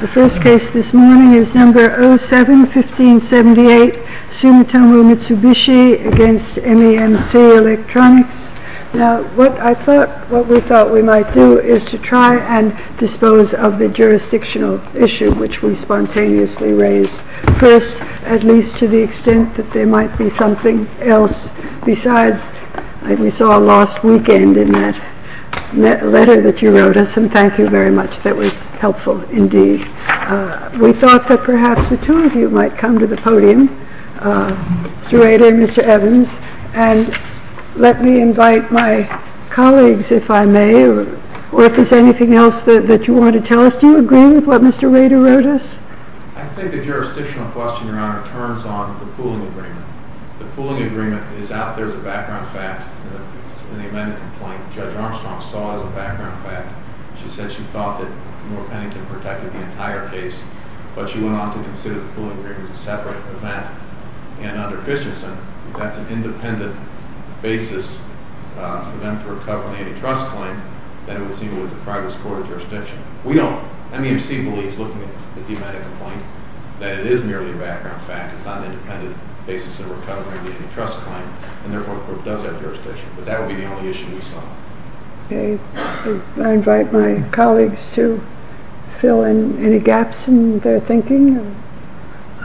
The first case this morning is number 07-1578, Sumitomo Mitsubishi against MEMC Electronics. Now, what I thought, what we thought we might do is to try and dispose of the jurisdictional issue which we spontaneously raised. First, at least to the extent that there might be something else besides, like we saw last weekend in that letter that you wrote us, and thank you very much, that was helpful indeed. We thought that perhaps the two of you might come to the podium, Mr. Rader and Mr. Evans, and let me invite my colleagues, if I may, or if there's anything else that you want to tell us. Do you agree with what Mr. Rader wrote us? I think the jurisdictional question, Your Honor, turns on the pooling agreement. The pooling agreement is out there as a background fact. It's an amended complaint. Judge Armstrong saw it as a background fact. She said she thought that Moore-Pennington protected the entire case, but she went on to consider the pooling agreement as a separate event. And under Christensen, if that's an independent basis for them to recover the antitrust claim, then it was equal with the private scoring jurisdiction. We don't. MEMC believes, looking at the amended complaint, that it is merely a background fact. It's not an independent basis in recovering the antitrust claim, and therefore the court does have jurisdiction. But that would be the only issue we saw. Okay. I invite my colleagues to fill in any gaps in their thinking.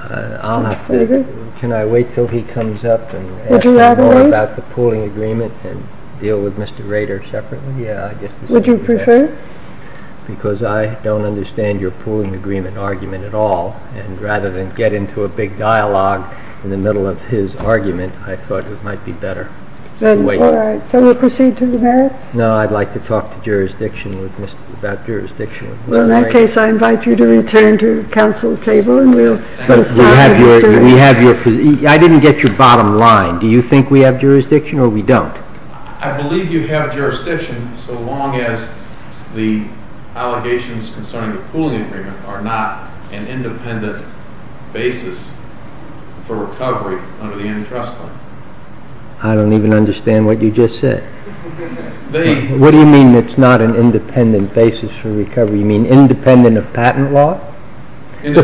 I'll have to. Can I wait until he comes up and asks me more about the pooling agreement, and deal with Mr. Rader separately? Would you prefer? Because I don't understand your pooling agreement argument at all. And rather than get into a big dialogue in the middle of his argument, I thought it might be better to wait. All right. So we'll proceed to the merits? No, I'd like to talk about jurisdiction with Mr. Rader. Well, in that case, I invite you to return to the council table, and we'll start with Mr. Rader. I didn't get your bottom line. Do you think we have jurisdiction, or we don't? I believe you have jurisdiction, so long as the allegations concerning the pooling agreement are not an independent basis for recovery under the antitrust claim. I don't even understand what you just said. What do you mean it's not an independent basis for recovery? You mean independent of patent law? The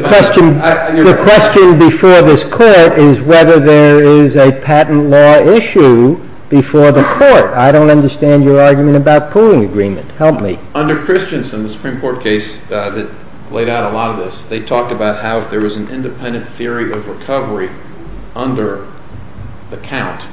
question before this court is whether there is a patent law issue before the court. I don't understand your argument about pooling agreement. Help me. Under Christensen, the Supreme Court case that laid out a lot of this, they talked about how there was an independent theory of recovery under the count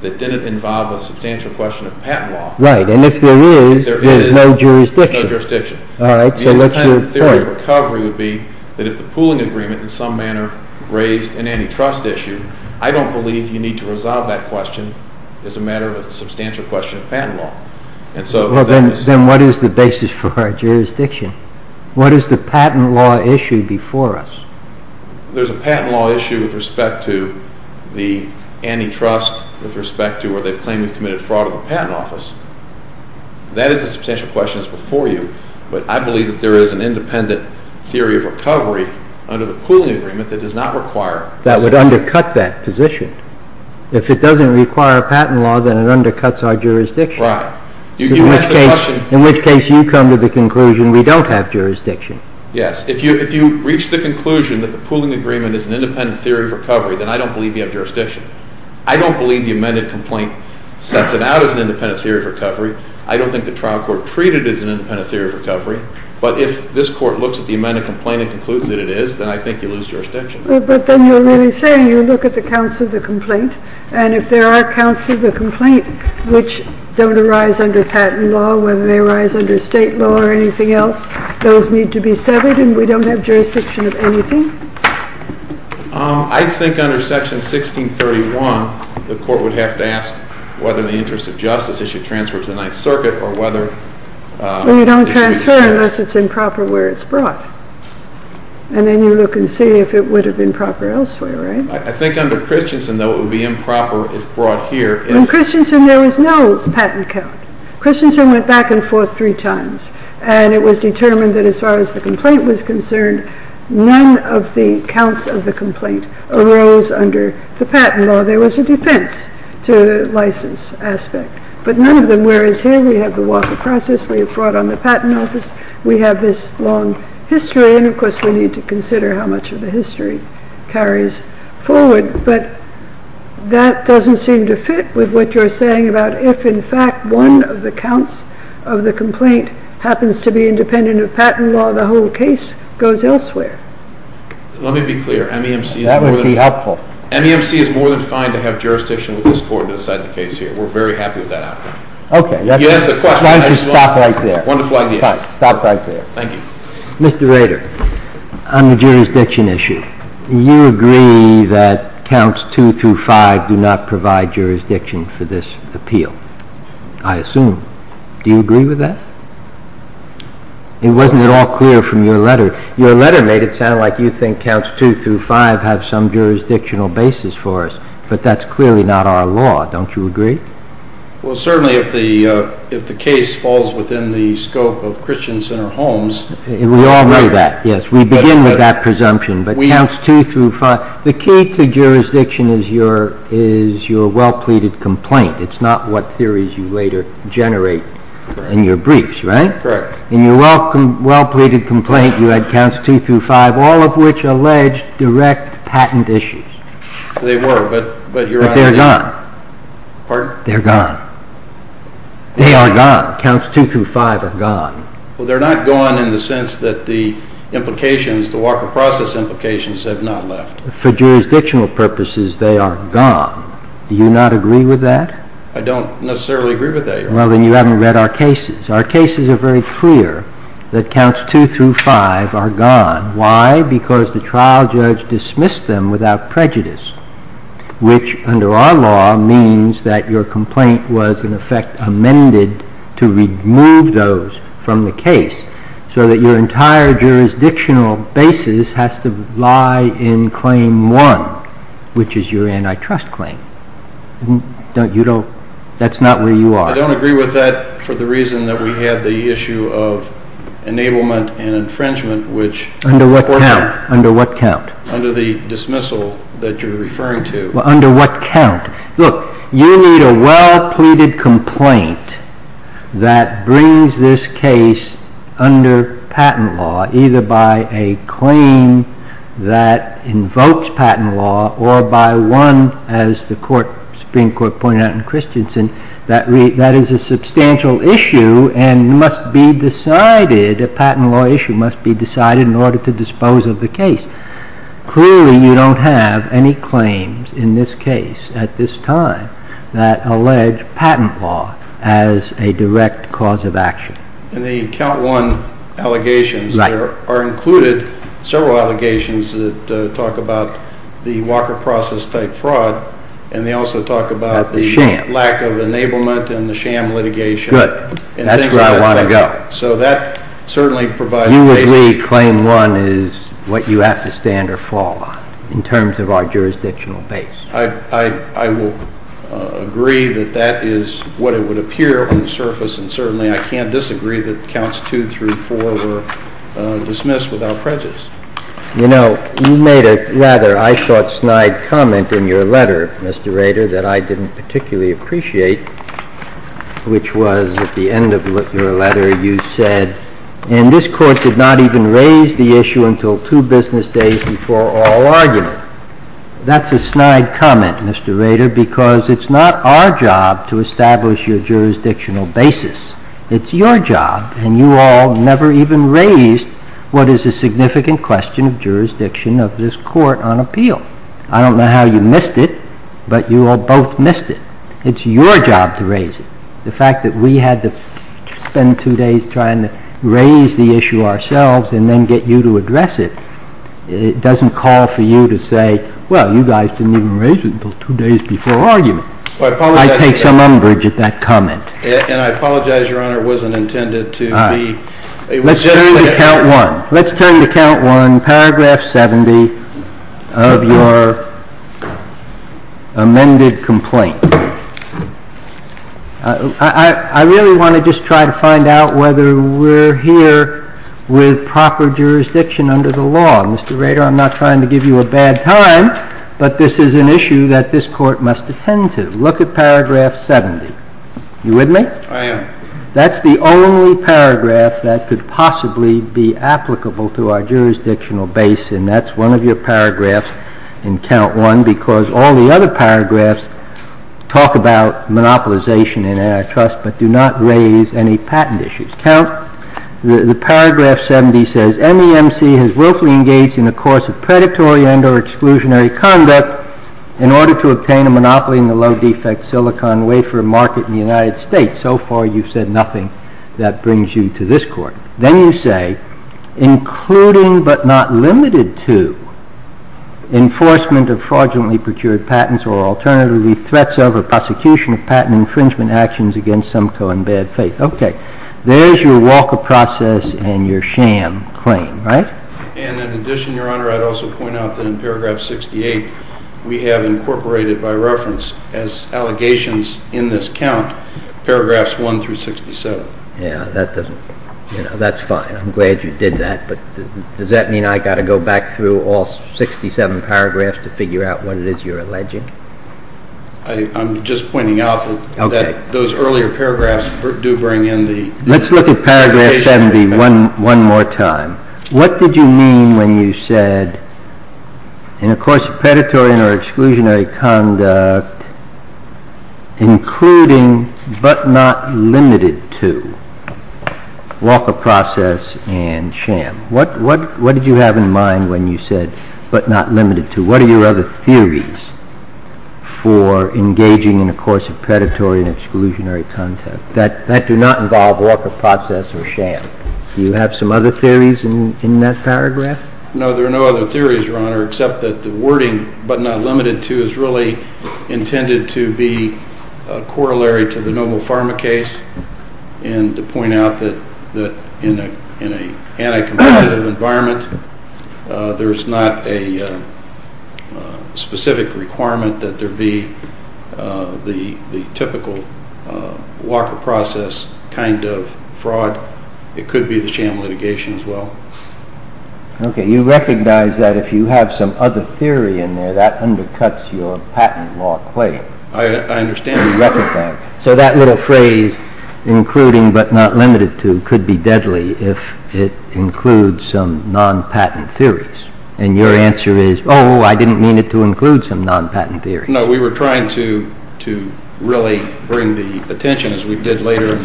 that didn't involve a substantial question of patent law. Right. And if there is, there is no jurisdiction. There is no jurisdiction. All right. So let's move forward. The independent theory of recovery would be that if the pooling agreement in some manner raised an antitrust issue, I don't believe you need to resolve that question as a matter of a substantial question of patent law. Then what is the basis for our jurisdiction? What is the patent law issue before us? There's a patent law issue with respect to the antitrust, with respect to where they claim we've committed fraud of the patent office. That is a substantial question that's before you, but I believe that there is an independent theory of recovery under the pooling agreement that does not require... That would undercut that position. If it doesn't require a patent law, then it undercuts our jurisdiction. Right. In which case you come to the conclusion we don't have jurisdiction. Yes. If you reach the conclusion that the pooling agreement is an independent theory of recovery, then I don't believe you have jurisdiction. I don't believe the amended complaint sets it out as an independent theory of recovery. I don't think the trial court treated it as an independent theory of recovery, but if this court looks at the amended complaint and concludes that it is, then I think you lose jurisdiction. But then you're really saying you look at the counts of the complaint, and if there are counts of the complaint which don't arise under patent law, whether they arise under state law or anything else, those need to be severed and we don't have jurisdiction of anything? I think under Section 1631, the court would have to ask whether in the interest of justice, it should transfer to the Ninth Circuit or whether... Well, you don't transfer unless it's improper where it's brought. And then you look and see if it would have been proper elsewhere, right? I think under Christensen, though, it would be improper if brought here. In Christensen, there was no patent count. Christensen went back and forth three times, and it was determined that as far as the complaint was concerned, none of the counts of the complaint arose under the patent law. There was a defense to the license aspect, but none of them. Whereas here, we have the Walker Process, we have brought on the Patent Office, we have this long history, and, of course, we need to consider how much of the history carries forward. But that doesn't seem to fit with what you're saying about if, in fact, one of the counts of the complaint happens to be independent of patent law, the whole case goes elsewhere. Let me be clear. That would be helpful. MEMC is more than fine to have jurisdiction with this court to decide the case here. We're very happy with that outcome. Okay. Why don't you stop right there? Wonderful idea. Stop right there. Thank you. Mr. Rader, on the jurisdiction issue, you agree that Counts 2 through 5 do not provide jurisdiction for this appeal, I assume. Do you agree with that? It wasn't at all clear from your letter. Your letter made it sound like you think Counts 2 through 5 have some jurisdictional basis for us, but that's clearly not our law. Don't you agree? Well, certainly if the case falls within the scope of Christian Center Homes. We all know that, yes. We begin with that presumption. But Counts 2 through 5, the key to jurisdiction is your well-pleaded complaint. It's not what theories you later generate in your briefs, right? Correct. In your well-pleaded complaint, you had Counts 2 through 5, all of which alleged direct patent issues. They were, but your Honor, they're gone. Pardon? They're gone. They are gone. Counts 2 through 5 are gone. Well, they're not gone in the sense that the implications, the walk of process implications have not left. For jurisdictional purposes, they are gone. Do you not agree with that? I don't necessarily agree with that, Your Honor. Well, then you haven't read our cases. Our cases are very clear that Counts 2 through 5 are gone. Why? Because the trial judge dismissed them without prejudice, which under our law means that your complaint was, in effect, amended to remove those from the case, so that your entire jurisdictional basis has to lie in Claim 1, which is your antitrust claim. That's not where you are. I don't agree with that for the reason that we had the issue of enablement and infringement, which, of course, under the dismissal that you're referring to. Well, under what count? Look, you need a well-pleaded complaint that brings this case under patent law, either by a claim that invokes patent law or by one, as the Supreme Court pointed out in Christensen, that is a substantial issue and must be decided, a patent law issue must be decided in order to dispose of the case. Clearly, you don't have any claims in this case at this time that allege patent law as a direct cause of action. In the Count 1 allegations, there are included several allegations that talk about the Walker Process-type fraud, and they also talk about the lack of enablement and the sham litigation. Good. That's where I want to go. So that certainly provides a basis. We claim one is what you have to stand or fall on, in terms of our jurisdictional base. I will agree that that is what it would appear on the surface, and certainly I can't disagree that Counts 2 through 4 were dismissed without prejudice. You know, you made a rather eyesore snide comment in your letter, Mr. Rader, that I didn't particularly appreciate, which was at the end of your letter you said, and this Court did not even raise the issue until two business days before all argument. That's a snide comment, Mr. Rader, because it's not our job to establish your jurisdictional basis. It's your job, and you all never even raised what is a significant question of jurisdiction of this Court on appeal. I don't know how you missed it, but you all both missed it. It's your job to raise it. The fact that we had to spend two days trying to raise the issue ourselves and then get you to address it, it doesn't call for you to say, well, you guys didn't even raise it until two days before argument. I take some umbrage at that comment. And I apologize, Your Honor, it wasn't intended to be. Let's turn to Count 1. Let's turn to Count 1, paragraph 70 of your amended complaint. I really want to just try to find out whether we're here with proper jurisdiction under the law. Mr. Rader, I'm not trying to give you a bad time, but this is an issue that this Court must attend to. Look at paragraph 70. You with me? I am. That's the only paragraph that could possibly be applicable to our jurisdictional base, and that's one of your paragraphs in Count 1, because all the other paragraphs talk about monopolization in antitrust, but do not raise any patent issues. Count, the paragraph 70 says, MEMC has willfully engaged in a course of predatory and or exclusionary conduct in order to obtain a monopoly in the low-defect silicon wafer market in the United States. So far, you've said nothing that brings you to this Court. Then you say, including but not limited to enforcement of fraudulently procured patents or alternatively threats over prosecution of patent infringement actions against some to embed faith. Okay. There's your walk of process and your sham claim, right? And in addition, Your Honor, I'd also point out that in paragraph 68, we have incorporated by reference as allegations in this count, paragraphs 1 through 67. Yeah, that's fine. I'm glad you did that, but does that mean I've got to go back through all 67 paragraphs to figure out what it is you're alleging? I'm just pointing out that those earlier paragraphs do bring in the... Let's look at paragraph 70 one more time. What did you mean when you said, in a course of predatory and or exclusionary conduct, including but not limited to walk of process and sham? What did you have in mind when you said, but not limited to? What are your other theories for engaging in a course of predatory and exclusionary conduct that do not involve walk of process or sham? Do you have some other theories in that paragraph? No, there are no other theories, Your Honor, except that the wording, but not limited to, is really intended to be corollary to the Noble Pharma case and to point out that in an anti-competitive environment, there is not a specific requirement that there be the typical walk of process kind of fraud. It could be the sham litigation as well. Okay, you recognize that if you have some other theory in there, that undercuts your patent law claim. I understand. So that little phrase, including but not limited to, could be deadly if it includes some non-patent theories. And your answer is, oh, I didn't mean it to include some non-patent theories. No, we were trying to really bring the attention, as we did later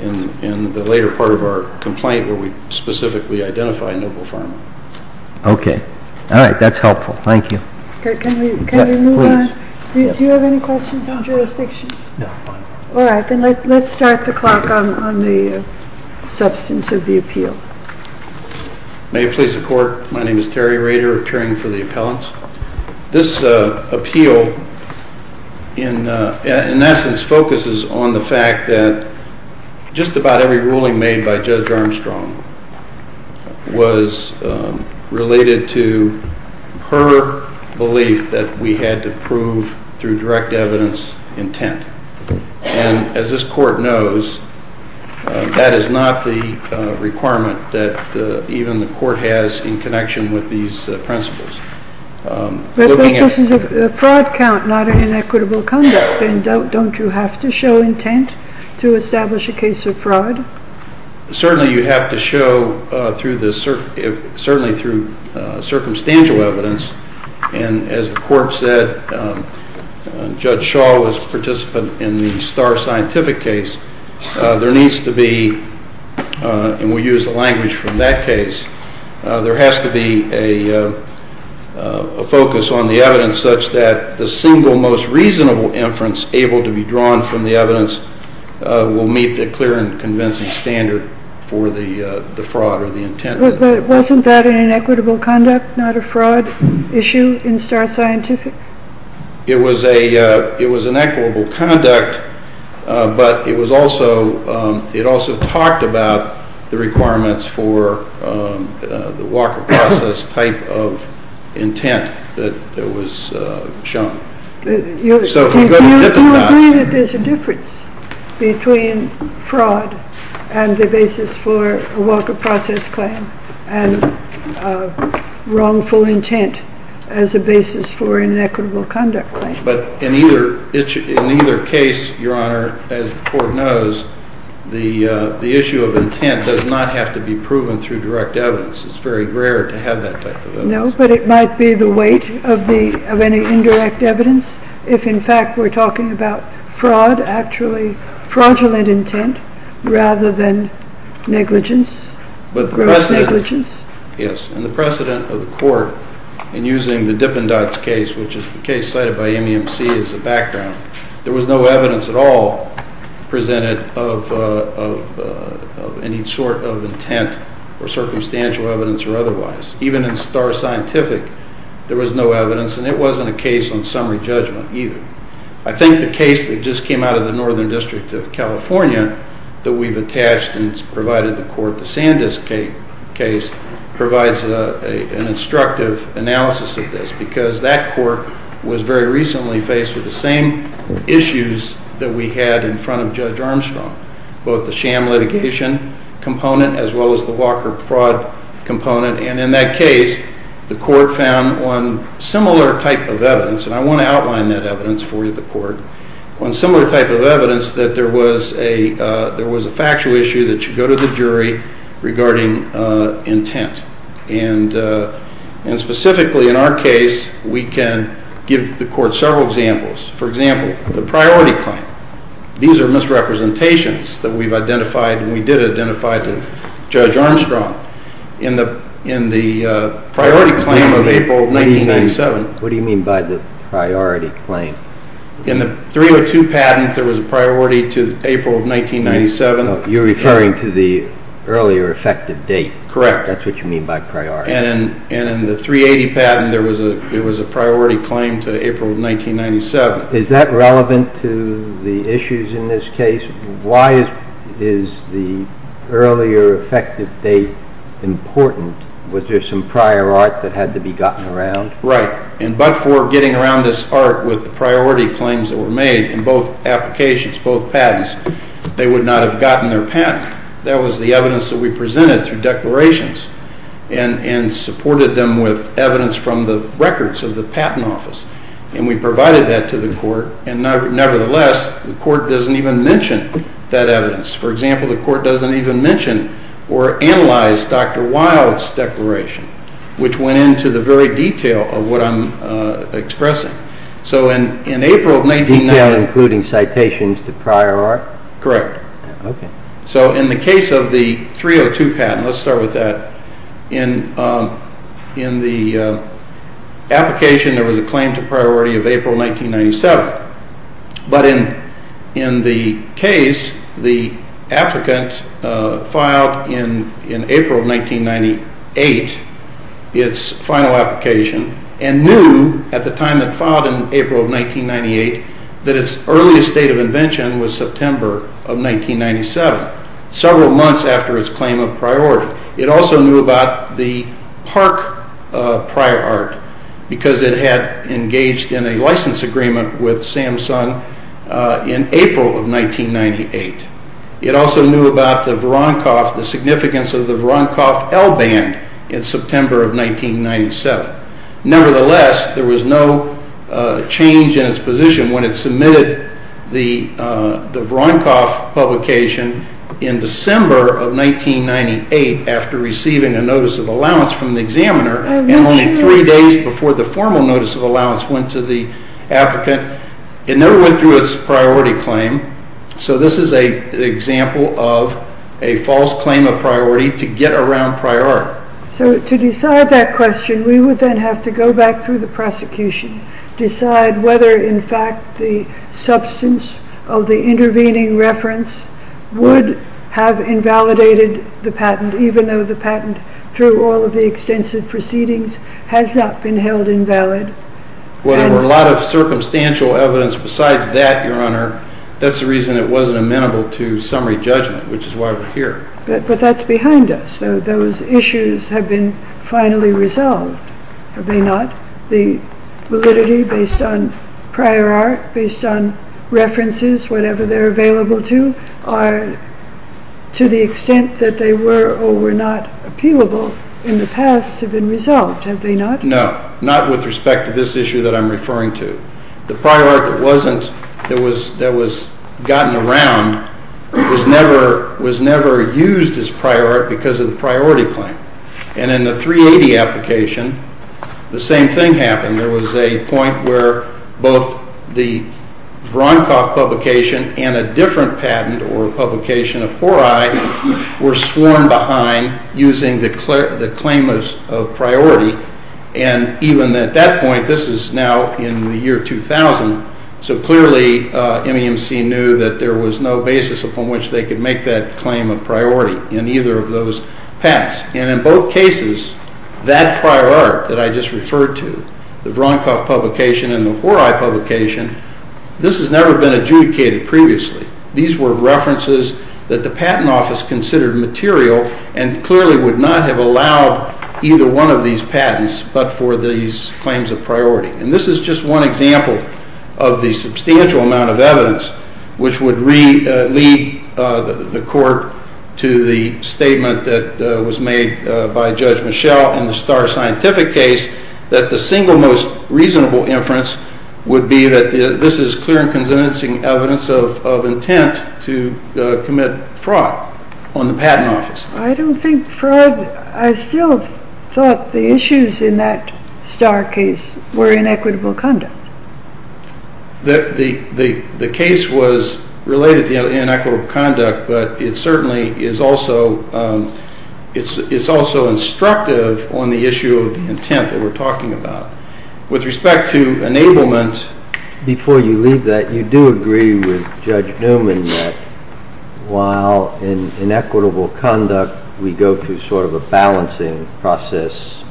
in the later part of our complaint, where we specifically identified Noble Pharma. Okay. All right, that's helpful. Thank you. Can we move on? Do you have any questions on jurisdiction? No. All right, then let's start the clock on the substance of the appeal. May it please the Court. My name is Terry Rader, appearing for the appellants. This appeal, in essence, focuses on the fact that just about every ruling made by Judge Armstrong was related to her belief that we had to prove, through direct evidence, intent. And as this Court knows, that is not the requirement that even the Court has in connection with these principles. But this is a fraud count, not an inequitable conduct, and don't you have to show intent to establish a case of fraud? Certainly you have to show, certainly through circumstantial evidence. And as the Court said, Judge Shaw was a participant in the Starr Scientific case. There needs to be, and we'll use the language from that case, there has to be a focus on the evidence such that the single most reasonable inference able to be drawn from the evidence will meet the clear and convincing standard for the fraud or the intent. But wasn't that an inequitable conduct, not a fraud issue in Starr Scientific? It was an equitable conduct, but it also talked about the requirements for the walker process type of intent that was shown. You agree that there's a difference between fraud and the basis for a walker process claim and wrongful intent as a basis for an equitable conduct claim. But in either case, Your Honor, as the Court knows, the issue of intent does not have to be proven through direct evidence. It's very rare to have that type of evidence. No, but it might be the weight of any indirect evidence if, in fact, we're talking about fraud, actually fraudulent intent rather than negligence, gross negligence. Yes, and the precedent of the Court in using the Dippendots case, which is the case cited by MEMC as a background, there was no evidence at all presented of any sort of intent or circumstantial evidence or otherwise. Even in Starr Scientific, there was no evidence, and it wasn't a case on summary judgment either. I think the case that just came out of the Northern District of California that we've attached and provided the Court, the Sandisk case, provides an instructive analysis of this because that Court was very recently faced with the same issues that we had in front of Judge Armstrong, both the sham litigation component as well as the Walker fraud component. And in that case, the Court found one similar type of evidence, and I want to outline that evidence for you, the Court, one similar type of evidence that there was a factual issue that should go to the jury regarding intent. And specifically in our case, we can give the Court several examples. For example, the priority claim. These are misrepresentations that we've identified and we did identify to Judge Armstrong in the priority claim of April 1997. What do you mean by the priority claim? In the 302 patent, there was a priority to April 1997. You're referring to the earlier effective date. Correct. That's what you mean by priority. And in the 380 patent, there was a priority claim to April 1997. Is that relevant to the issues in this case? Why is the earlier effective date important? Was there some prior art that had to be gotten around? Right. And but for getting around this art with the priority claims that were made in both applications, both patents, they would not have gotten their patent. That was the evidence that we presented through declarations and supported them with evidence from the records of the Patent Office. And we provided that to the Court, and nevertheless, the Court doesn't even mention that evidence. For example, the Court doesn't even mention or analyze Dr. Wild's declaration, which went into the very detail of what I'm expressing. So in April of 19- Detail including citations to prior art? Correct. Okay. So in the case of the 302 patent, let's start with that. In the application, there was a claim to priority of April 1997. But in the case, the applicant filed in April of 1998 its final application and knew at the time it filed in April of 1998 that its earliest date of invention was September of 1997, several months after its claim of priority. It also knew about the Park prior art because it had engaged in a license agreement with Samsung in April of 1998. It also knew about the Voronkov, the significance of the Voronkov L band in September of 1997. Nevertheless, there was no change in its position when it submitted the Voronkov publication in December of 1998 after receiving a notice of allowance from the examiner and only three days before the formal notice of allowance went to the applicant. It never went through its priority claim. So this is an example of a false claim of priority to get around prior art. So to decide that question, we would then have to go back through the prosecution, decide whether in fact the substance of the intervening reference would have invalidated the patent even though the patent through all of the extensive proceedings has not been held invalid. Well, there were a lot of circumstantial evidence besides that, Your Honor. That's the reason it wasn't amenable to summary judgment, which is why we're here. But that's behind us. Those issues have been finally resolved. Have they not? The validity based on prior art, based on references, whatever they're available to, to the extent that they were or were not appealable in the past have been resolved. Have they not? No, not with respect to this issue that I'm referring to. The prior art that was gotten around was never used as prior art because of the priority claim. And in the 380 application, the same thing happened. There was a point where both the Vronkoff publication and a different patent or publication of 4I were sworn behind using the claim of priority. And even at that point, this is now in the year 2000, so clearly MEMC knew that there was no basis upon which they could make that claim of priority in either of those patents. And in both cases, that prior art that I just referred to, the Vronkoff publication and the 4I publication, this has never been adjudicated previously. These were references that the Patent Office considered material and clearly would not have allowed either one of these patents but for these claims of priority. And this is just one example of the substantial amount of evidence which would lead the court to the statement that was made by Judge Michel in the Starr Scientific case that the single most reasonable inference would be that this is clear and convincing evidence of intent to commit fraud on the Patent Office. I don't think fraud... I still thought the issues in that Starr case were inequitable conduct. The case was related to inequitable conduct, but it certainly is also instructive on the issue of the intent that we're talking about. With respect to enablement... Before you leave that, you do agree with Judge Newman that while in inequitable conduct we go through sort of a balancing process,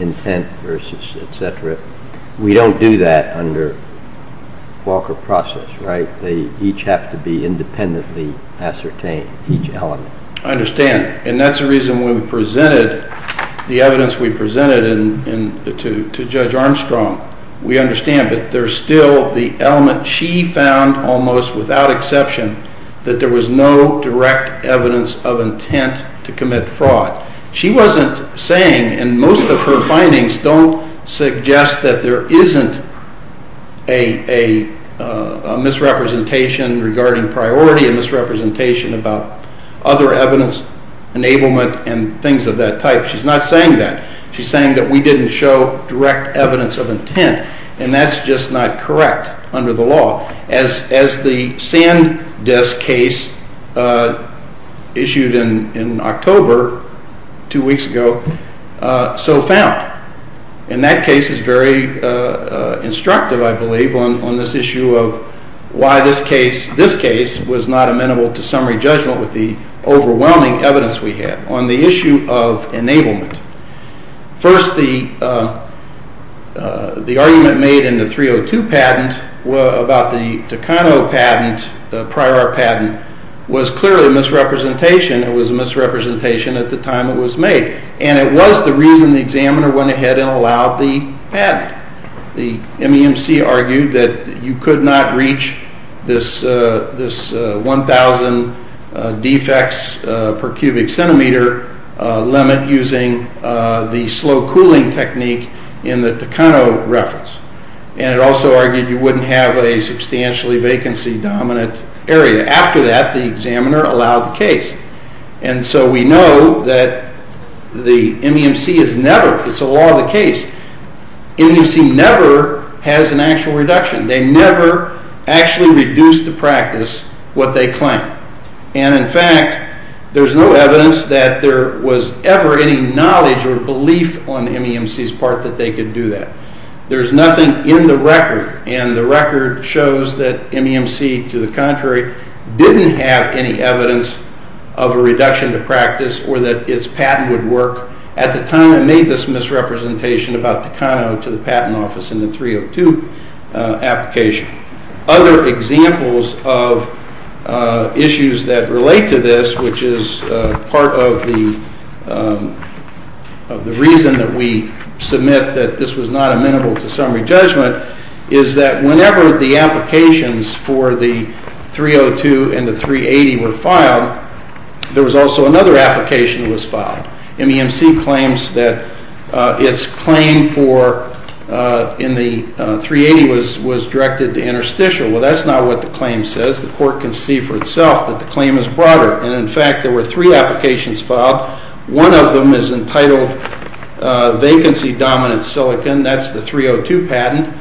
intent versus etc., we don't do that under Walker process, right? They each have to be independently ascertained, each element. I understand, and that's the reason when we presented the evidence we presented to Judge Armstrong. We understand that there's still the element she found almost without exception that there was no direct evidence of intent to commit fraud. She wasn't saying, and most of her findings don't suggest that there isn't a misrepresentation regarding priority, a misrepresentation about other evidence, enablement, and things of that type. She's not saying that. She's saying that we didn't show direct evidence of intent, and that's just not correct under the law as the Sand Desk case issued in October, two weeks ago, so found. And that case is very instructive, I believe, on this issue of why this case was not amenable to summary judgment with the overwhelming evidence we had. On the issue of enablement, first the argument made in the 302 patent about the Takano patent, the prior patent, was clearly a misrepresentation. It was a misrepresentation at the time it was made, and it was the reason the examiner went ahead and allowed the patent. The MEMC argued that you could not reach this 1,000 defects per cubic centimeter limit using the slow cooling technique in the Takano reference. And it also argued you wouldn't have a substantially vacancy-dominant area. After that, the examiner allowed the case. And so we know that the MEMC has never, it's a law of the case, MEMC never has an actual reduction. They never actually reduce to practice what they claim. And, in fact, there's no evidence that there was ever any knowledge or belief on MEMC's part that they could do that. There's nothing in the record, and the record shows that MEMC, to the contrary, didn't have any evidence of a reduction to practice or that its patent would work at the time it made this misrepresentation about Takano to the patent office in the 302 application. Other examples of issues that relate to this, which is part of the reason that we submit that this was not amenable to summary judgment, is that whenever the applications for the 302 and the 380 were filed, there was also another application that was filed. MEMC claims that its claim for, in the 380, was directed to interstitial. Well, that's not what the claim says. The court can see for itself that the claim is broader. And, in fact, there were three applications filed. One of them is entitled vacancy-dominant silicon. That's the 302 patent.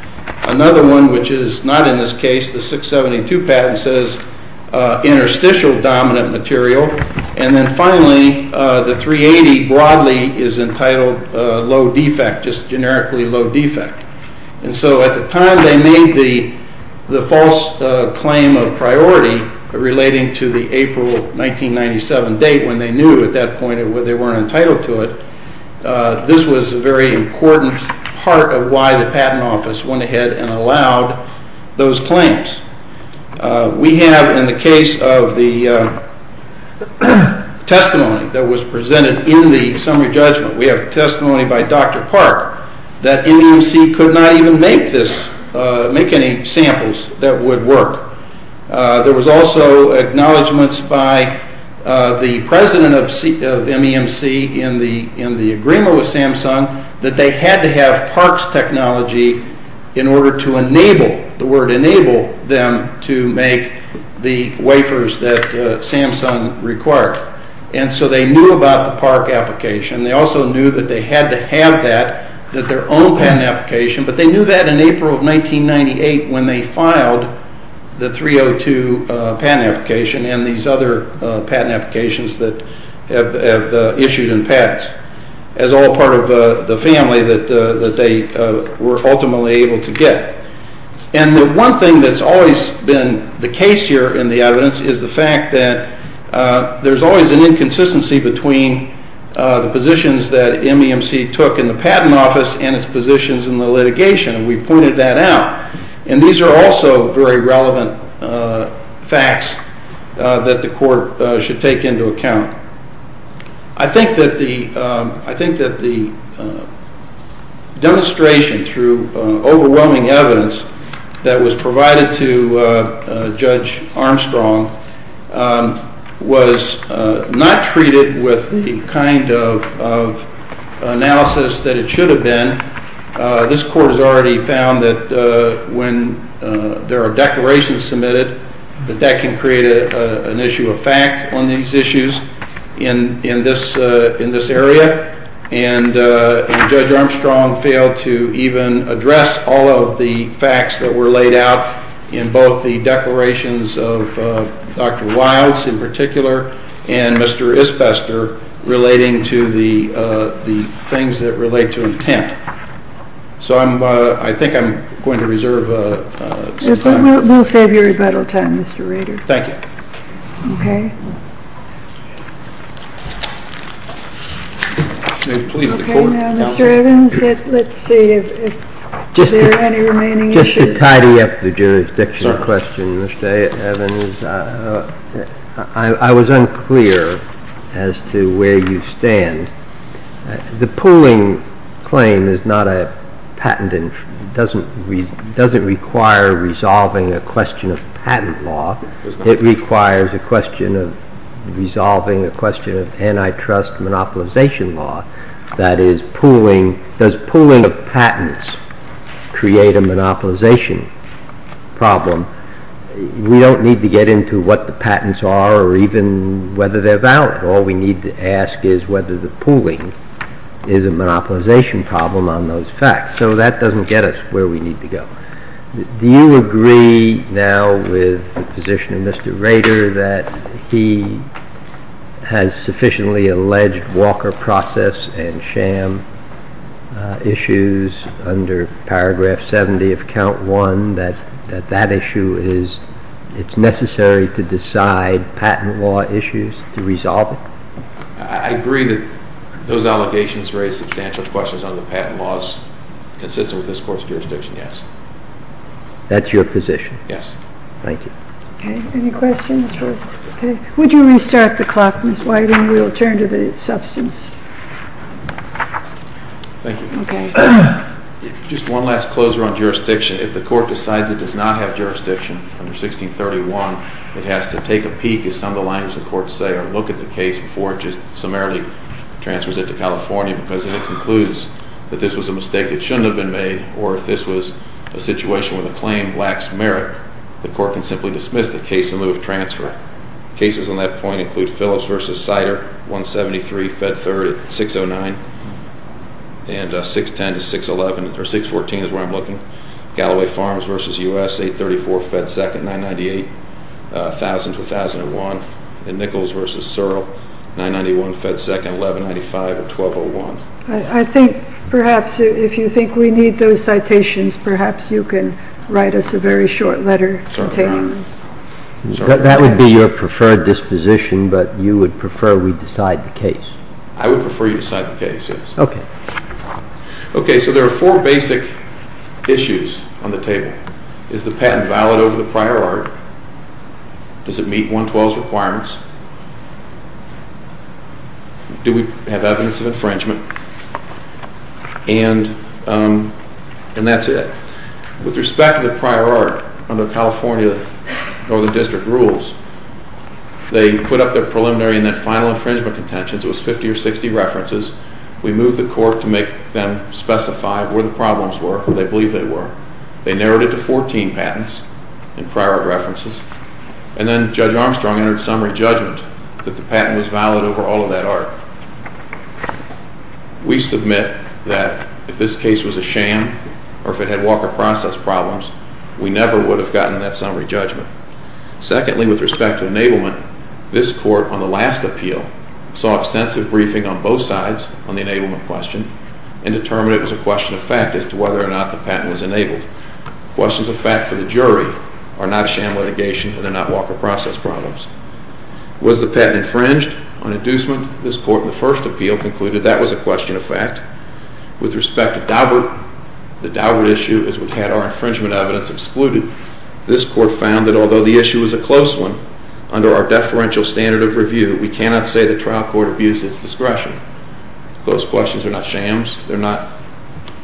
Another one, which is not in this case, the 672 patent, says interstitial-dominant material. And then, finally, the 380 broadly is entitled low-defect, just generically low-defect. And so, at the time they made the false claim of priority relating to the April 1997 date, when they knew at that point they weren't entitled to it, this was a very important part of why the patent office went ahead and allowed those claims. We have, in the case of the testimony that was presented in the summary judgment, we have testimony by Dr. Park that MEMC could not even make any samples that would work. There was also acknowledgments by the president of MEMC in the agreement with Samsung that they had to have Park's technology in order to enable, the word enable, them to make the wafers that Samsung required. And so they knew about the Park application. They also knew that they had to have that, that their own patent application, but they knew that in April of 1998 when they filed the 302 patent application and these other patent applications that have issued in pads, as all part of the family that they were ultimately able to get. And the one thing that's always been the case here in the evidence is the fact that there's always an inconsistency between the positions that MEMC took in the patent office and its positions in the litigation, and we pointed that out. And these are also very relevant facts that the court should take into account. I think that the demonstration through overwhelming evidence that was provided to Judge Armstrong was not treated with the kind of analysis that it should have been. This court has already found that when there are declarations submitted, that that can create an issue of fact on these issues in this area. And Judge Armstrong failed to even address all of the facts that were laid out in both the declarations of Dr. Wilds in particular and Mr. Isbester relating to the things that relate to intent. So I think I'm going to reserve some time. We'll save your rebuttal time, Mr. Rader. Thank you. Okay. Now, Mr. Evans, let's see if there are any remaining issues. Just to tidy up the jurisdictional question, Mr. Evans, I was unclear as to where you stand. The pooling claim doesn't require resolving a question of patent law. It requires resolving a question of antitrust monopolization law. That is, does pooling of patents create a monopolization problem? We don't need to get into what the patents are or even whether they're valid. All we need to ask is whether the pooling is a monopolization problem on those facts. So that doesn't get us where we need to go. Do you agree now with the position of Mr. Rader that he has sufficiently alleged Walker Process and Sham issues under Paragraph 70 of Count I, that that issue is necessary to decide patent law issues to resolve it? I agree that those allegations raise substantial questions on the patent laws consistent with this Court's jurisdiction, yes. That's your position? Yes. Thank you. Any questions? Would you restart the clock, Ms. Whiting? We'll turn to the substance. Thank you. Just one last closer on jurisdiction. If the Court decides it does not have jurisdiction under 1631, it has to take a peek, as some of the lines of the Court say, or look at the case before it just summarily transfers it to California because if it concludes that this was a mistake that shouldn't have been made or if this was a situation where the claim lacks merit, the Court can simply dismiss the case in lieu of transfer. Cases on that point include Phillips v. Sider, 173, Fed 30, 609, and 610 to 611, or 614 is where I'm looking, Galloway Farms v. U.S., 834, Fed 2nd, 998, 1000 to 1001, and Nichols v. Searle, 991, Fed 2nd, 1195, or 1201. I think perhaps if you think we need those citations, perhaps you can write us a very short letter to take them. That would be your preferred disposition, but you would prefer we decide the case. I would prefer you decide the case, yes. Okay. Okay, so there are four basic issues on the table. Is the patent valid over the prior order? Does it meet 112's requirements? Do we have evidence of infringement? And that's it. With respect to the prior art under California Northern District rules, they put up their preliminary and then final infringement contentions. It was 50 or 60 references. We moved the Court to make them specify where the problems were, where they believed they were. They narrowed it to 14 patents in prior art references, and then Judge Armstrong entered summary judgment that the patent was valid over all of that art. We submit that if this case was a sham or if it had Walker process problems, we never would have gotten that summary judgment. Secondly, with respect to enablement, this Court on the last appeal saw extensive briefing on both sides on the enablement question and determined it was a question of fact as to whether or not the patent was enabled. Questions of fact for the jury are not sham litigation and they're not Walker process problems. Was the patent infringed on inducement? This Court in the first appeal concluded that was a question of fact. With respect to Daubert, the Daubert issue is what had our infringement evidence excluded. This Court found that although the issue is a close one, under our deferential standard of review, we cannot say the trial court abused its discretion. Those questions are not shams. They're not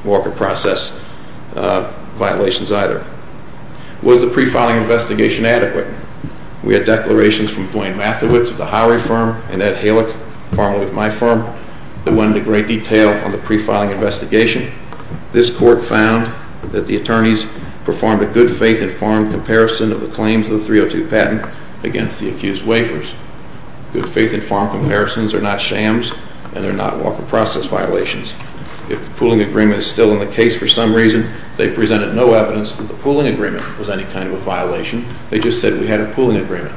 Walker process violations either. Was the pre-filing investigation adequate? We had declarations from Dwayne Mathewitz of the Howery firm and Ed Halick, formerly of my firm, that went into great detail on the pre-filing investigation. This Court found that the attorneys performed a good faith informed comparison of the claims of the 302 patent against the accused waivers. Good faith informed comparisons are not shams and they're not Walker process violations. If the pooling agreement is still in the case for some reason, they presented no evidence that the pooling agreement was any kind of a violation. They just said we had a pooling agreement.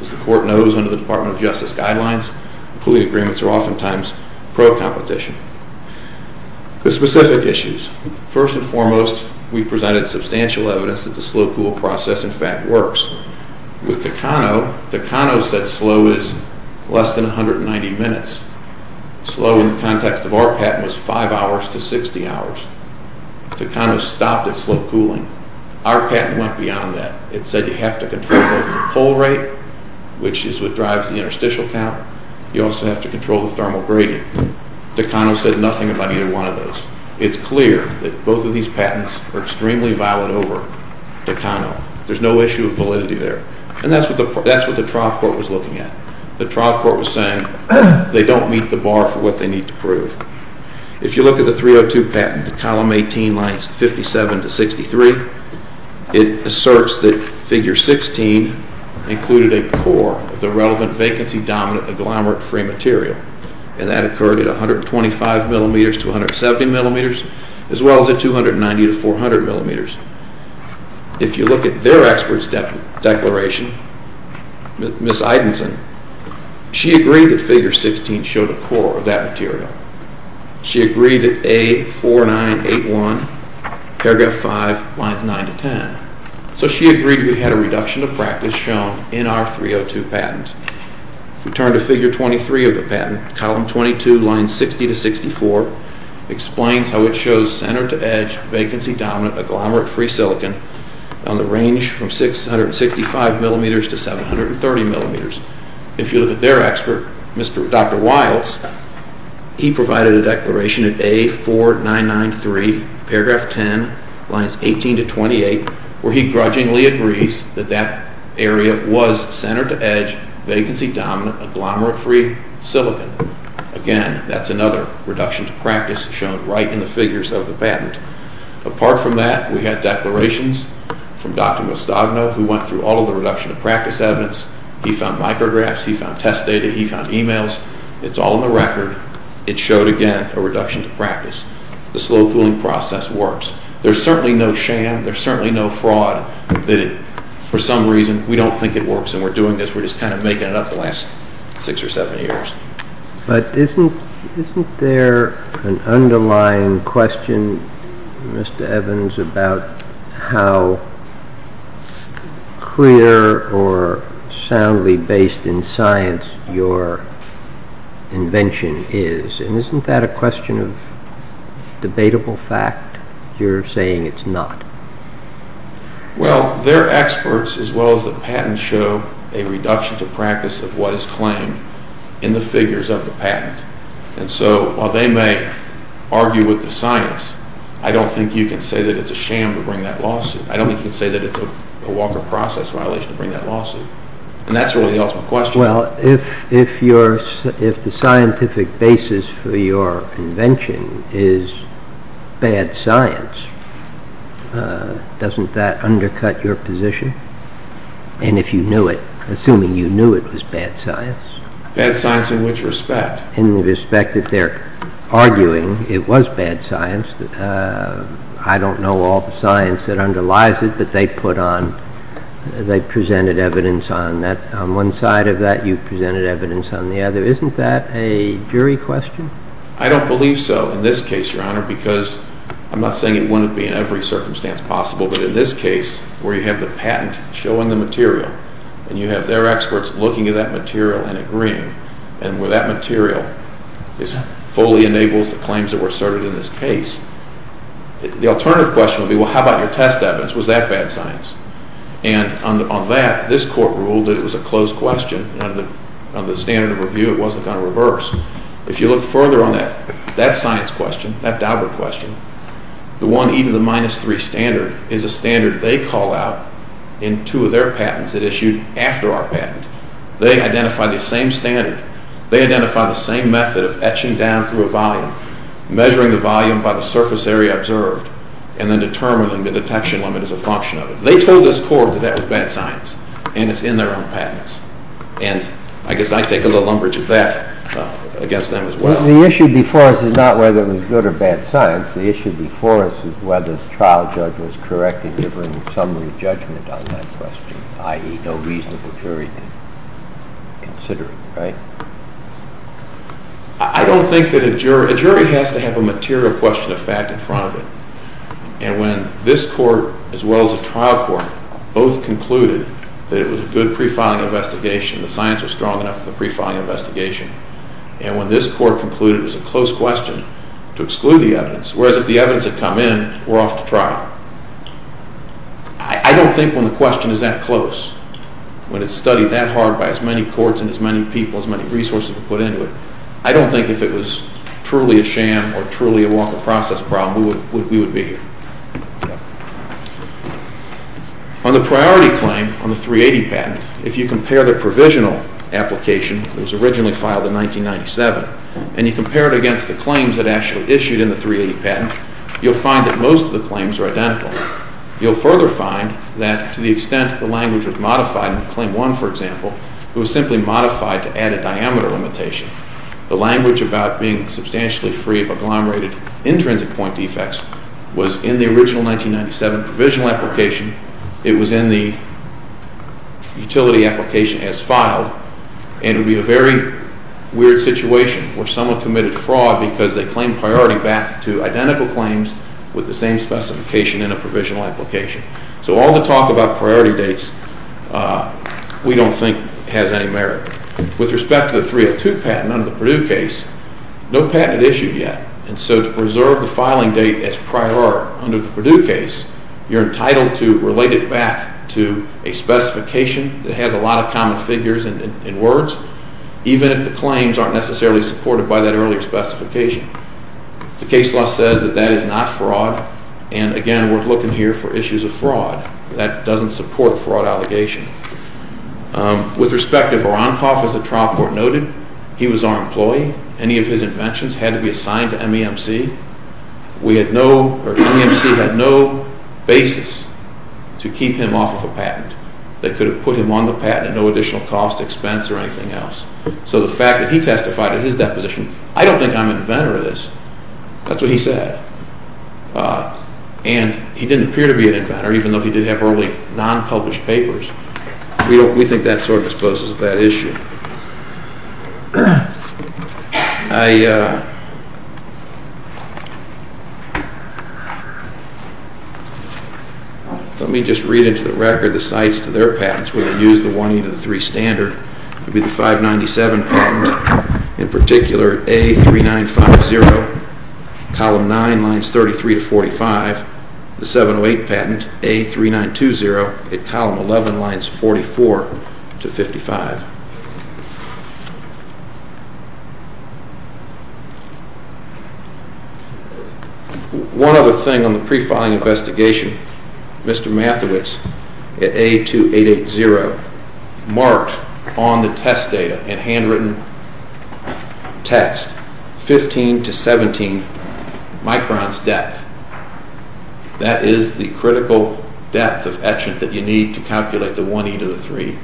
As the Court knows under the Department of Justice guidelines, pooling agreements are oftentimes pro-competition. The specific issues. First and foremost, we presented substantial evidence that the slow pool process in fact works. With Takano, Takano said slow is less than 190 minutes. Slow in the context of our patent was 5 hours to 60 hours. Takano stopped at slow pooling. Our patent went beyond that. It said you have to control the pool rate, which is what drives the interstitial count. You also have to control the thermal gradient. Takano said nothing about either one of those. It's clear that both of these patents are extremely valid over Takano. There's no issue of validity there. And that's what the trial court was looking at. The trial court was saying they don't meet the bar for what they need to prove. If you look at the 302 patent, column 18, lines 57 to 63, it asserts that figure 16 included a core of the relevant vacancy-dominant agglomerate-free material. And that occurred at 125 millimeters to 170 millimeters, as well as at 290 to 400 millimeters. If you look at their expert's declaration, Ms. Idenson, she agreed that figure 16 showed a core of that material. She agreed that A4981, paragraph 5, lines 9 to 10. So she agreed we had a reduction of practice shown in our 302 patent. If we turn to figure 23 of the patent, column 22, lines 60 to 64, explains how it shows center-to-edge vacancy-dominant agglomerate-free silicon on the range from 665 millimeters to 730 millimeters. If you look at their expert, Dr. Wiles, he provided a declaration at A4993, paragraph 10, lines 18 to 28, where he grudgingly agrees that that area was center-to-edge vacancy-dominant agglomerate-free silicon. Again, that's another reduction to practice shown right in the figures of the patent. Apart from that, we had declarations from Dr. Mostogno, who went through all of the reduction to practice evidence. He found micrographs, he found test data, he found emails. It's all in the record. It showed, again, a reduction to practice. The slow cooling process works. There's certainly no sham. There's certainly no fraud. For some reason, we don't think it works, and we're doing this. We're just kind of making it up the last six or seven years. But isn't there an underlying question, Mr. Evans, about how clear or soundly based in science your invention is? And isn't that a question of debatable fact? You're saying it's not. Well, their experts, as well as the patents, show a reduction to practice of what is claimed in the figures of the patent. And so while they may argue with the science, I don't think you can say that it's a sham to bring that lawsuit. I don't think you can say that it's a Walker process violation to bring that lawsuit. And that's really the ultimate question. Well, if the scientific basis for your invention is bad science, doesn't that undercut your position? And if you knew it, assuming you knew it was bad science. Bad science in which respect? In the respect that they're arguing it was bad science. I don't know all the science that underlies it, but they presented evidence on that. On one side of that, you presented evidence on the other. Isn't that a jury question? I don't believe so in this case, Your Honor, because I'm not saying it wouldn't be in every circumstance possible, but in this case where you have the patent showing the material and you have their experts looking at that material and agreeing, and where that material fully enables the claims that were asserted in this case, the alternative question would be, well, how about your test evidence? Was that bad science? And on that, this court ruled that it was a closed question. Under the standard of review, it wasn't going to reverse. If you look further on that science question, that Daubert question, the 1e to the minus 3 standard is a standard they call out in two of their patents that issued after our patent. They identify the same standard. They identify the same method of etching down through a volume, measuring the volume by the surface area observed, and then determining the detection limit as a function of it. They told this court that that was bad science, and it's in their own patents. And I guess I take a little umbrage of that against them as well. The issue before us is not whether it was good or bad science. The issue before us is whether the trial judge was correct in giving a summary judgment on that question, i.e., no reasonable jury considering it, right? I don't think that a jury has to have a material question of fact in front of it. And when this court, as well as a trial court, both concluded that it was a good pre-filing investigation, the science was strong enough for the pre-filing investigation, and when this court concluded it was a close question to exclude the evidence, whereas if the evidence had come in, we're off to trial. I don't think when the question is that close, when it's studied that hard by as many courts and as many people, as many resources were put into it, I don't think if it was truly a sham or truly a walk-of-process problem, we would be here. On the priority claim on the 380 patent, if you compare the provisional application that was originally filed in 1997, and you compare it against the claims that actually issued in the 380 patent, you'll find that most of the claims are identical. You'll further find that to the extent the language was modified, in Claim 1, for example, it was simply modified to add a diameter limitation. The language about being substantially free of agglomerated intrinsic point defects was in the original 1997 provisional application, it was in the utility application as filed, and it would be a very weird situation where someone committed fraud because they claimed priority back to identical claims with the same specification in a provisional application. So all the talk about priority dates we don't think has any merit. With respect to the 302 patent under the Purdue case, no patent had issued yet, and so to preserve the filing date as prior under the Purdue case, you're entitled to relate it back to a specification that has a lot of common figures and words, even if the claims aren't necessarily supported by that earlier specification. The case law says that that is not fraud, and again, we're looking here for issues of fraud. That doesn't support a fraud allegation. With respect to Voronkov, as the trial court noted, he was our employee. Any of his inventions had to be assigned to MEMC. MEMC had no basis to keep him off of a patent. They could have put him on the patent at no additional cost, expense, or anything else. So the fact that he testified in his deposition, I don't think I'm an inventor of this. That's what he said. And he didn't appear to be an inventor, even though he did have early non-published papers. We think that sort of disposes of that issue. Let me just read into the record the cites to their patents. We're going to use the 1E to the 3 standard. It would be the 597 patent, in particular, at A3950, column 9, lines 33 to 45. The 708 patent, A3920, at column 11, lines 44 to 55. One other thing on the pre-filing investigation, Mr. Mathewitz, at A2880, marked on the test data, in handwritten text, 15 to 17 microns depth. That is the critical depth of etchant that you need to calculate the 1E to the 3.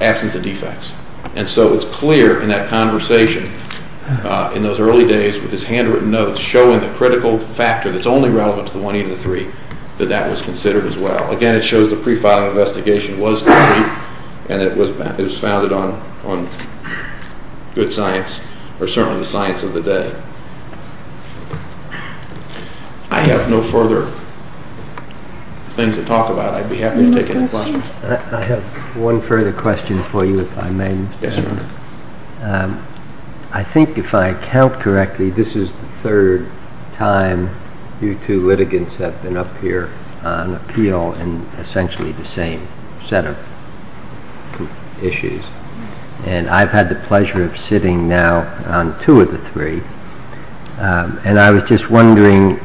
Absence of defects. And so it's clear in that conversation, in those early days, with his handwritten notes, showing the critical factor that's only relevant to the 1E to the 3, that that was considered as well. Again, it shows the pre-filing investigation was complete, and that it was founded on good science, or certainly the science of the day. I have no further things to talk about. I'd be happy to take any questions. I have one further question for you, if I may. I think if I count correctly, this is the third time you two litigants have been up here on appeal in essentially the same set of issues. And I've had the pleasure of sitting now on two of the three. And I was just wondering,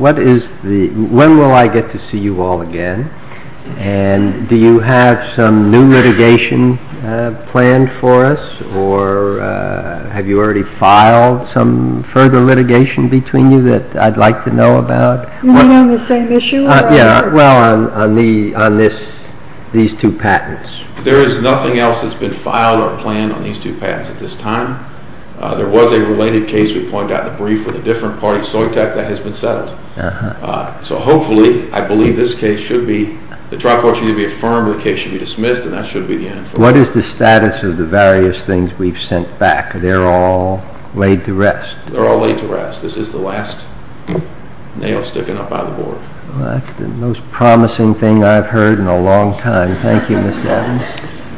when will I get to see you all again? And do you have some new litigation planned for us? Or have you already filed some further litigation between you that I'd like to know about? On the same issue? Yeah, well, on these two patents. There is nothing else that's been filed or planned on these two patents at this time. There was a related case we pointed out in the brief with a different party, Soitech, that has been settled. So hopefully, I believe this case should be, the trial court should be affirmed, the case should be dismissed, and that should be the end. What is the status of the various things we've sent back? They're all laid to rest. They're all laid to rest. This is the last nail sticking up by the board. That's the most promising thing I've heard in a long time. Thank you, Mr. Evans.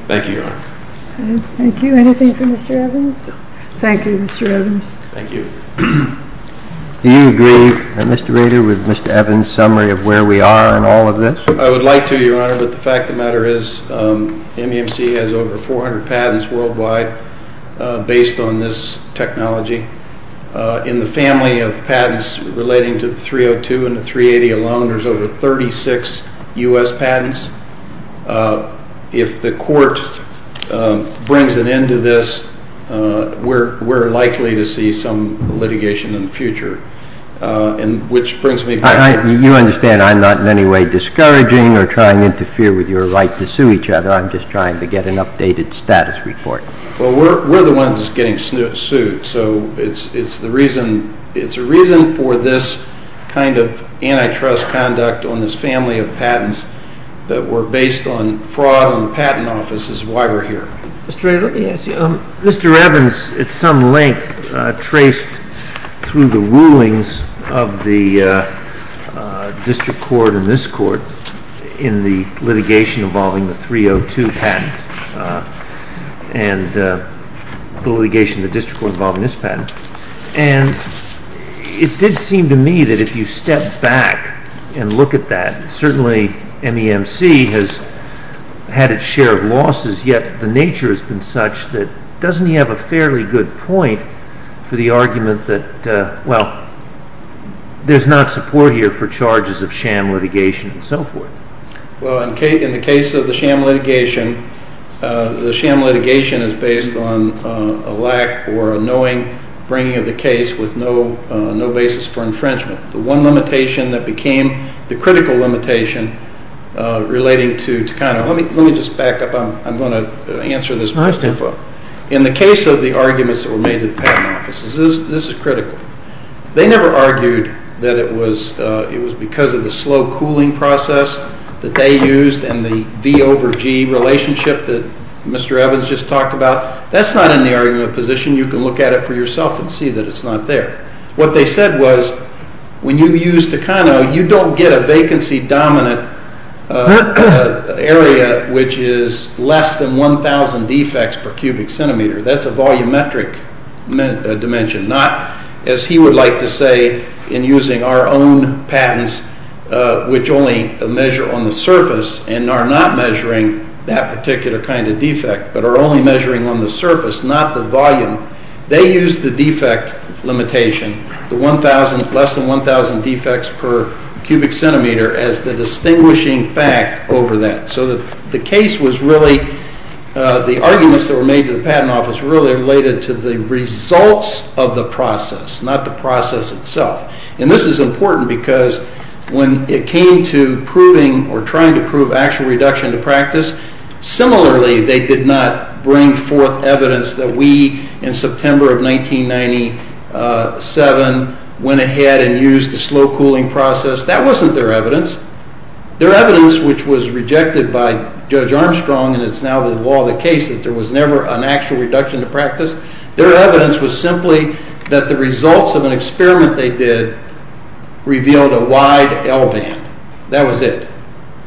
Thank you, Your Honor. Thank you. Anything for Mr. Evans? Thank you, Mr. Evans. Thank you. Do you agree, Mr. Rader, with Mr. Evans' summary of where we are in all of this? I would like to, Your Honor, but the fact of the matter is MEMC has over 400 patents worldwide based on this technology. In the family of patents relating to the 302 and the 380 alone, there's over 36 U.S. patents. If the court brings an end to this, we're likely to see some litigation in the future, which brings me back. You understand I'm not in any way discouraging or trying to interfere with your right to sue each other. I'm just trying to get an updated status report. Well, we're the ones getting sued, so it's a reason for this kind of antitrust conduct on this family of patents that were based on fraud on the patent office is why we're here. Mr. Rader, let me ask you. Mr. Evans, at some length, traced through the rulings of the district court and this court in the litigation involving the 302 patent and the litigation of the district court involving this patent, and it did seem to me that if you step back and look at that, certainly MEMC has had its share of losses, yet the nature has been such that doesn't he have a fairly good point for the argument that, well, there's not support here for charges of sham litigation and so forth? Well, in the case of the sham litigation, the sham litigation is based on a lack or a knowing bringing of the case with no basis for infringement. The one limitation that became the critical limitation relating to kind of let me just back up. I'm going to answer this question. In the case of the arguments that were made to the patent offices, this is critical. They never argued that it was because of the slow cooling process that they used and the V over G relationship that Mr. Evans just talked about. That's not in the argument position. You can look at it for yourself and see that it's not there. What they said was when you use Takano, you don't get a vacancy-dominant area, which is less than 1,000 defects per cubic centimeter. That's a volumetric dimension, not, as he would like to say in using our own patents, which only measure on the surface and are not measuring that particular kind of defect but are only measuring on the surface, not the volume. They used the defect limitation, the less than 1,000 defects per cubic centimeter, as the distinguishing fact over that. So the case was really the arguments that were made to the patent office really related to the results of the process, not the process itself. And this is important because when it came to proving or trying to prove actual reduction to practice, similarly, they did not bring forth evidence that we, in September of 1997, went ahead and used the slow cooling process. That wasn't their evidence. Their evidence, which was rejected by Judge Armstrong, and it's now the law of the case that there was never an actual reduction to practice, their evidence was simply that the results of an experiment they did revealed a wide L band. That was it.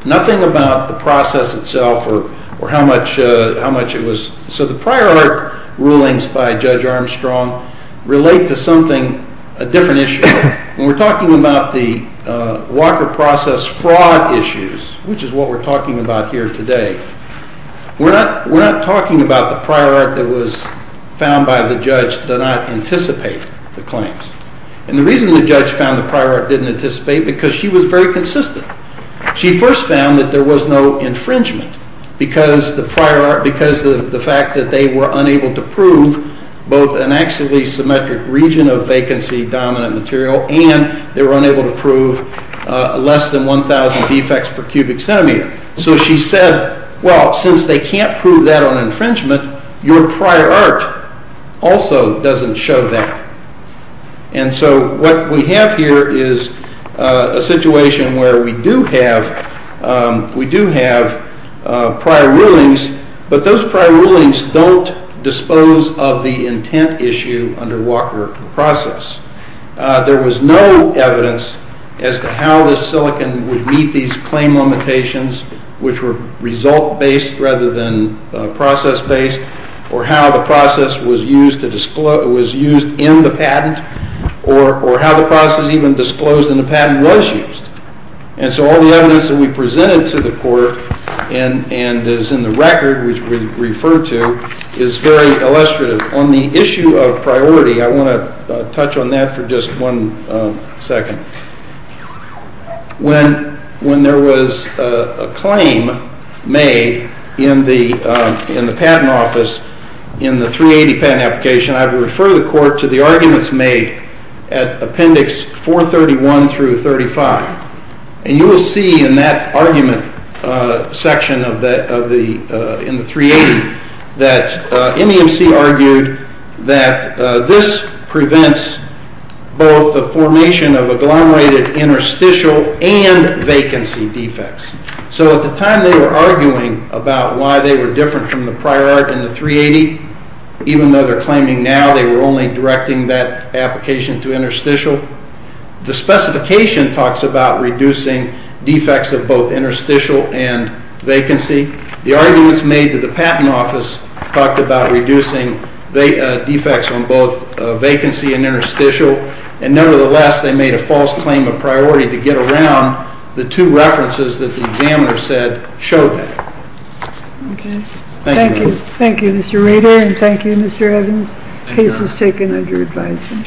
Nothing about the process itself or how much it was. So the prior art rulings by Judge Armstrong relate to something, a different issue. When we're talking about the Walker process fraud issues, which is what we're talking about here today, we're not talking about the prior art that was found by the judge to not anticipate the claims. And the reason the judge found the prior art didn't anticipate, because she was very consistent. She first found that there was no infringement because of the fact that they were unable to prove both an axially symmetric region of vacancy dominant material and they were unable to prove less than 1,000 defects per cubic centimeter. So she said, well, since they can't prove that on infringement, your prior art also doesn't show that. And so what we have here is a situation where we do have prior rulings, but those prior rulings don't dispose of the intent issue under Walker process. There was no evidence as to how this silicon would meet these claim limitations, which were result-based rather than process-based, or how the process was used in the patent, or how the process even disclosed in the patent was used. And so all the evidence that we presented to the court and is in the record, which we refer to, is very illustrative. On the issue of priority, I want to touch on that for just one second. When there was a claim made in the patent office in the 380 patent application, I would refer the court to the arguments made at Appendix 431 through 35. And you will see in that argument section in the 380 that MEMC argued that this prevents both the formation of agglomerated interstitial and vacancy defects. So at the time they were arguing about why they were different from the prior art in the 380, even though they're claiming now they were only directing that application to interstitial. The specification talks about reducing defects of both interstitial and vacancy. The arguments made to the patent office talked about reducing defects on both vacancy and interstitial. And nevertheless, they made a false claim of priority to get around the two references that the examiner said showed that. Thank you. Thank you, Mr. Rader, and thank you, Mr. Evans. Case is taken under advisement. Thank you. Thank you.